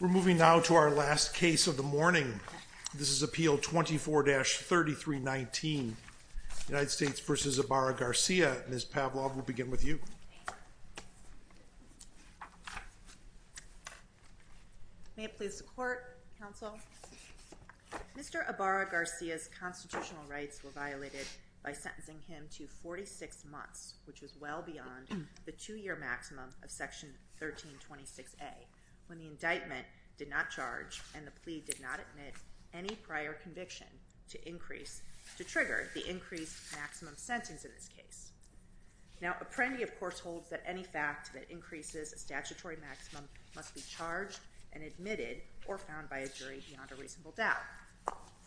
We're moving now to our last case of the morning. This is Appeal 24-3319 United States v. Ibarra-Garcia. Ms. Pavlov, we'll begin with you. May it please the Court, Counsel. Mr. Ibarra-Garcia's constitutional rights were violated by sentencing him to 46 months, which is well beyond the two-year maximum of Section 1326A, when the indictment did not charge and the plea did not admit any prior conviction to increase, to trigger, the increased maximum sentence in this case. Now, Apprendi, of course, holds that any fact that increases a statutory maximum must be charged and admitted or found by a jury beyond a reasonable doubt,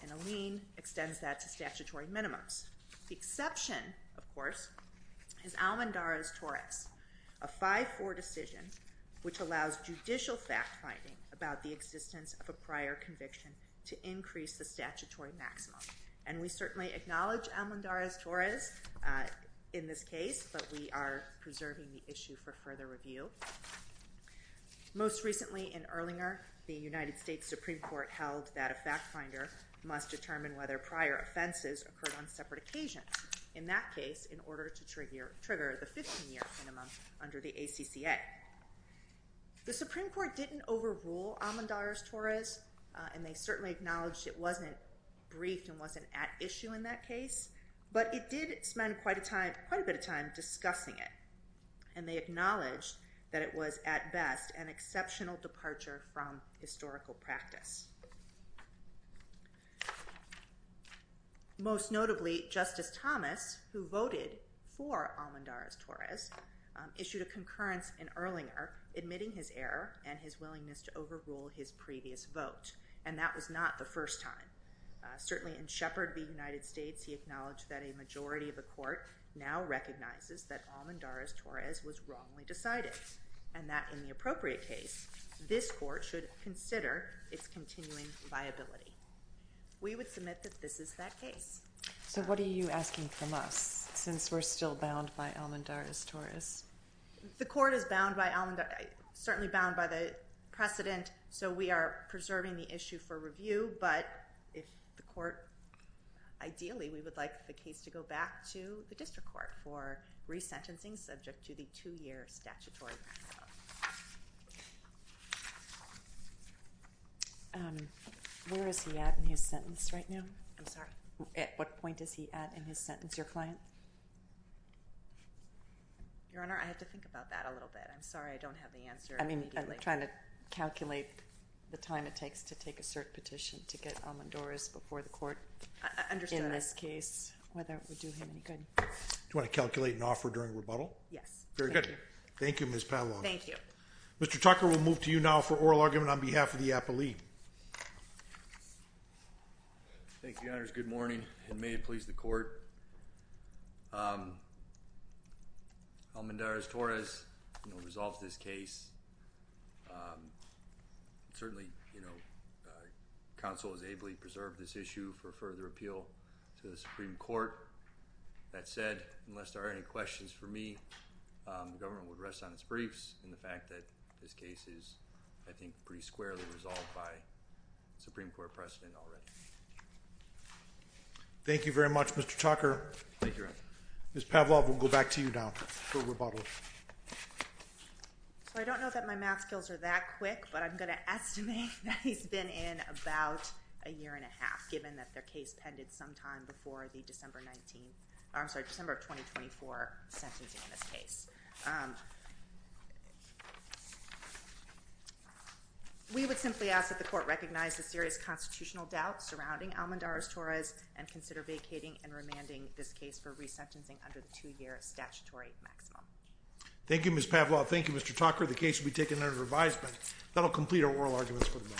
and Alene extends that to statutory minimums. The exception, of course, is Almendarez-Torres, a 5-4 decision which allows judicial fact-finding about the existence of a prior conviction to increase the statutory maximum. And we certainly acknowledge Almendarez-Torres in this case, but we are preserving the issue for further review. Most recently in Erlinger, the United States Supreme Court held that a fact-finder must determine whether prior offenses occurred on separate occasions, in that case, in order to trigger the 15-year minimum under the ACCA. The Supreme Court didn't overrule Almendarez-Torres, and they certainly acknowledged it wasn't briefed and wasn't at issue in that case, but it did spend quite a bit of time discussing it. And they acknowledged that it was, at best, an exceptional departure from historical practice. Most notably, Justice Thomas, who voted for Almendarez-Torres, issued a concurrence in Erlinger, admitting his error and his willingness to overrule his previous vote, and that was not the first time. Certainly in Sheppard v. United States, he acknowledged that a majority of the Court now recognizes that Almendarez-Torres was wrongly decided, and that in the appropriate case, this Court should consider its continuing viability. We would submit that this is that case. So what are you asking from us, since we're still bound by Almendarez-Torres? The Court is bound by Almendarez—certainly bound by the precedent, so we are preserving the issue for review, but if the Court—ideally, we would like the case to go back to the District Court for resentencing, subject to the two-year statutory process. Where is he at in his sentence right now? I'm sorry? At what point is he at in his sentence? Your client? Your Honor, I have to think about that a little bit. I'm sorry I don't have the answer immediately. I'm trying to calculate the time it takes to take a cert petition to get Almendarez before the Court— I understand. —in this case, whether it would do him any good. Do you want to calculate an offer during rebuttal? Yes. Very good. Thank you. Thank you, Ms. Pavlov. Thank you. Mr. Tucker, we'll move to you now for oral argument on behalf of the appellee. Thank you, Your Honors. Good morning, and may it please the Court. Almendarez-Torres resolves this case. Certainly, you know, counsel has ably preserved this issue for further appeal to the Supreme Court. That said, unless there are any questions for me, the government would rest on its briefs in the fact that this case is, I think, pretty squarely resolved by Supreme Court precedent already. Thank you very much, Mr. Tucker. Thank you, Your Honor. Ms. Pavlov, we'll go back to you now for rebuttal. So, I don't know that my math skills are that quick, but I'm going to estimate that he's been in about a year and a half, given that their case pended sometime before the December 19—I'm sorry, December of 2024 sentencing in this case. We would simply ask that the Court recognize the serious constitutional doubt surrounding Almendarez-Torres and consider vacating and remanding this case for resentencing under the two-year statutory maximum. Thank you, Ms. Pavlov. Thank you, Mr. Tucker. The case will be taken under revised, but that will complete our oral arguments for the moment. Thank you.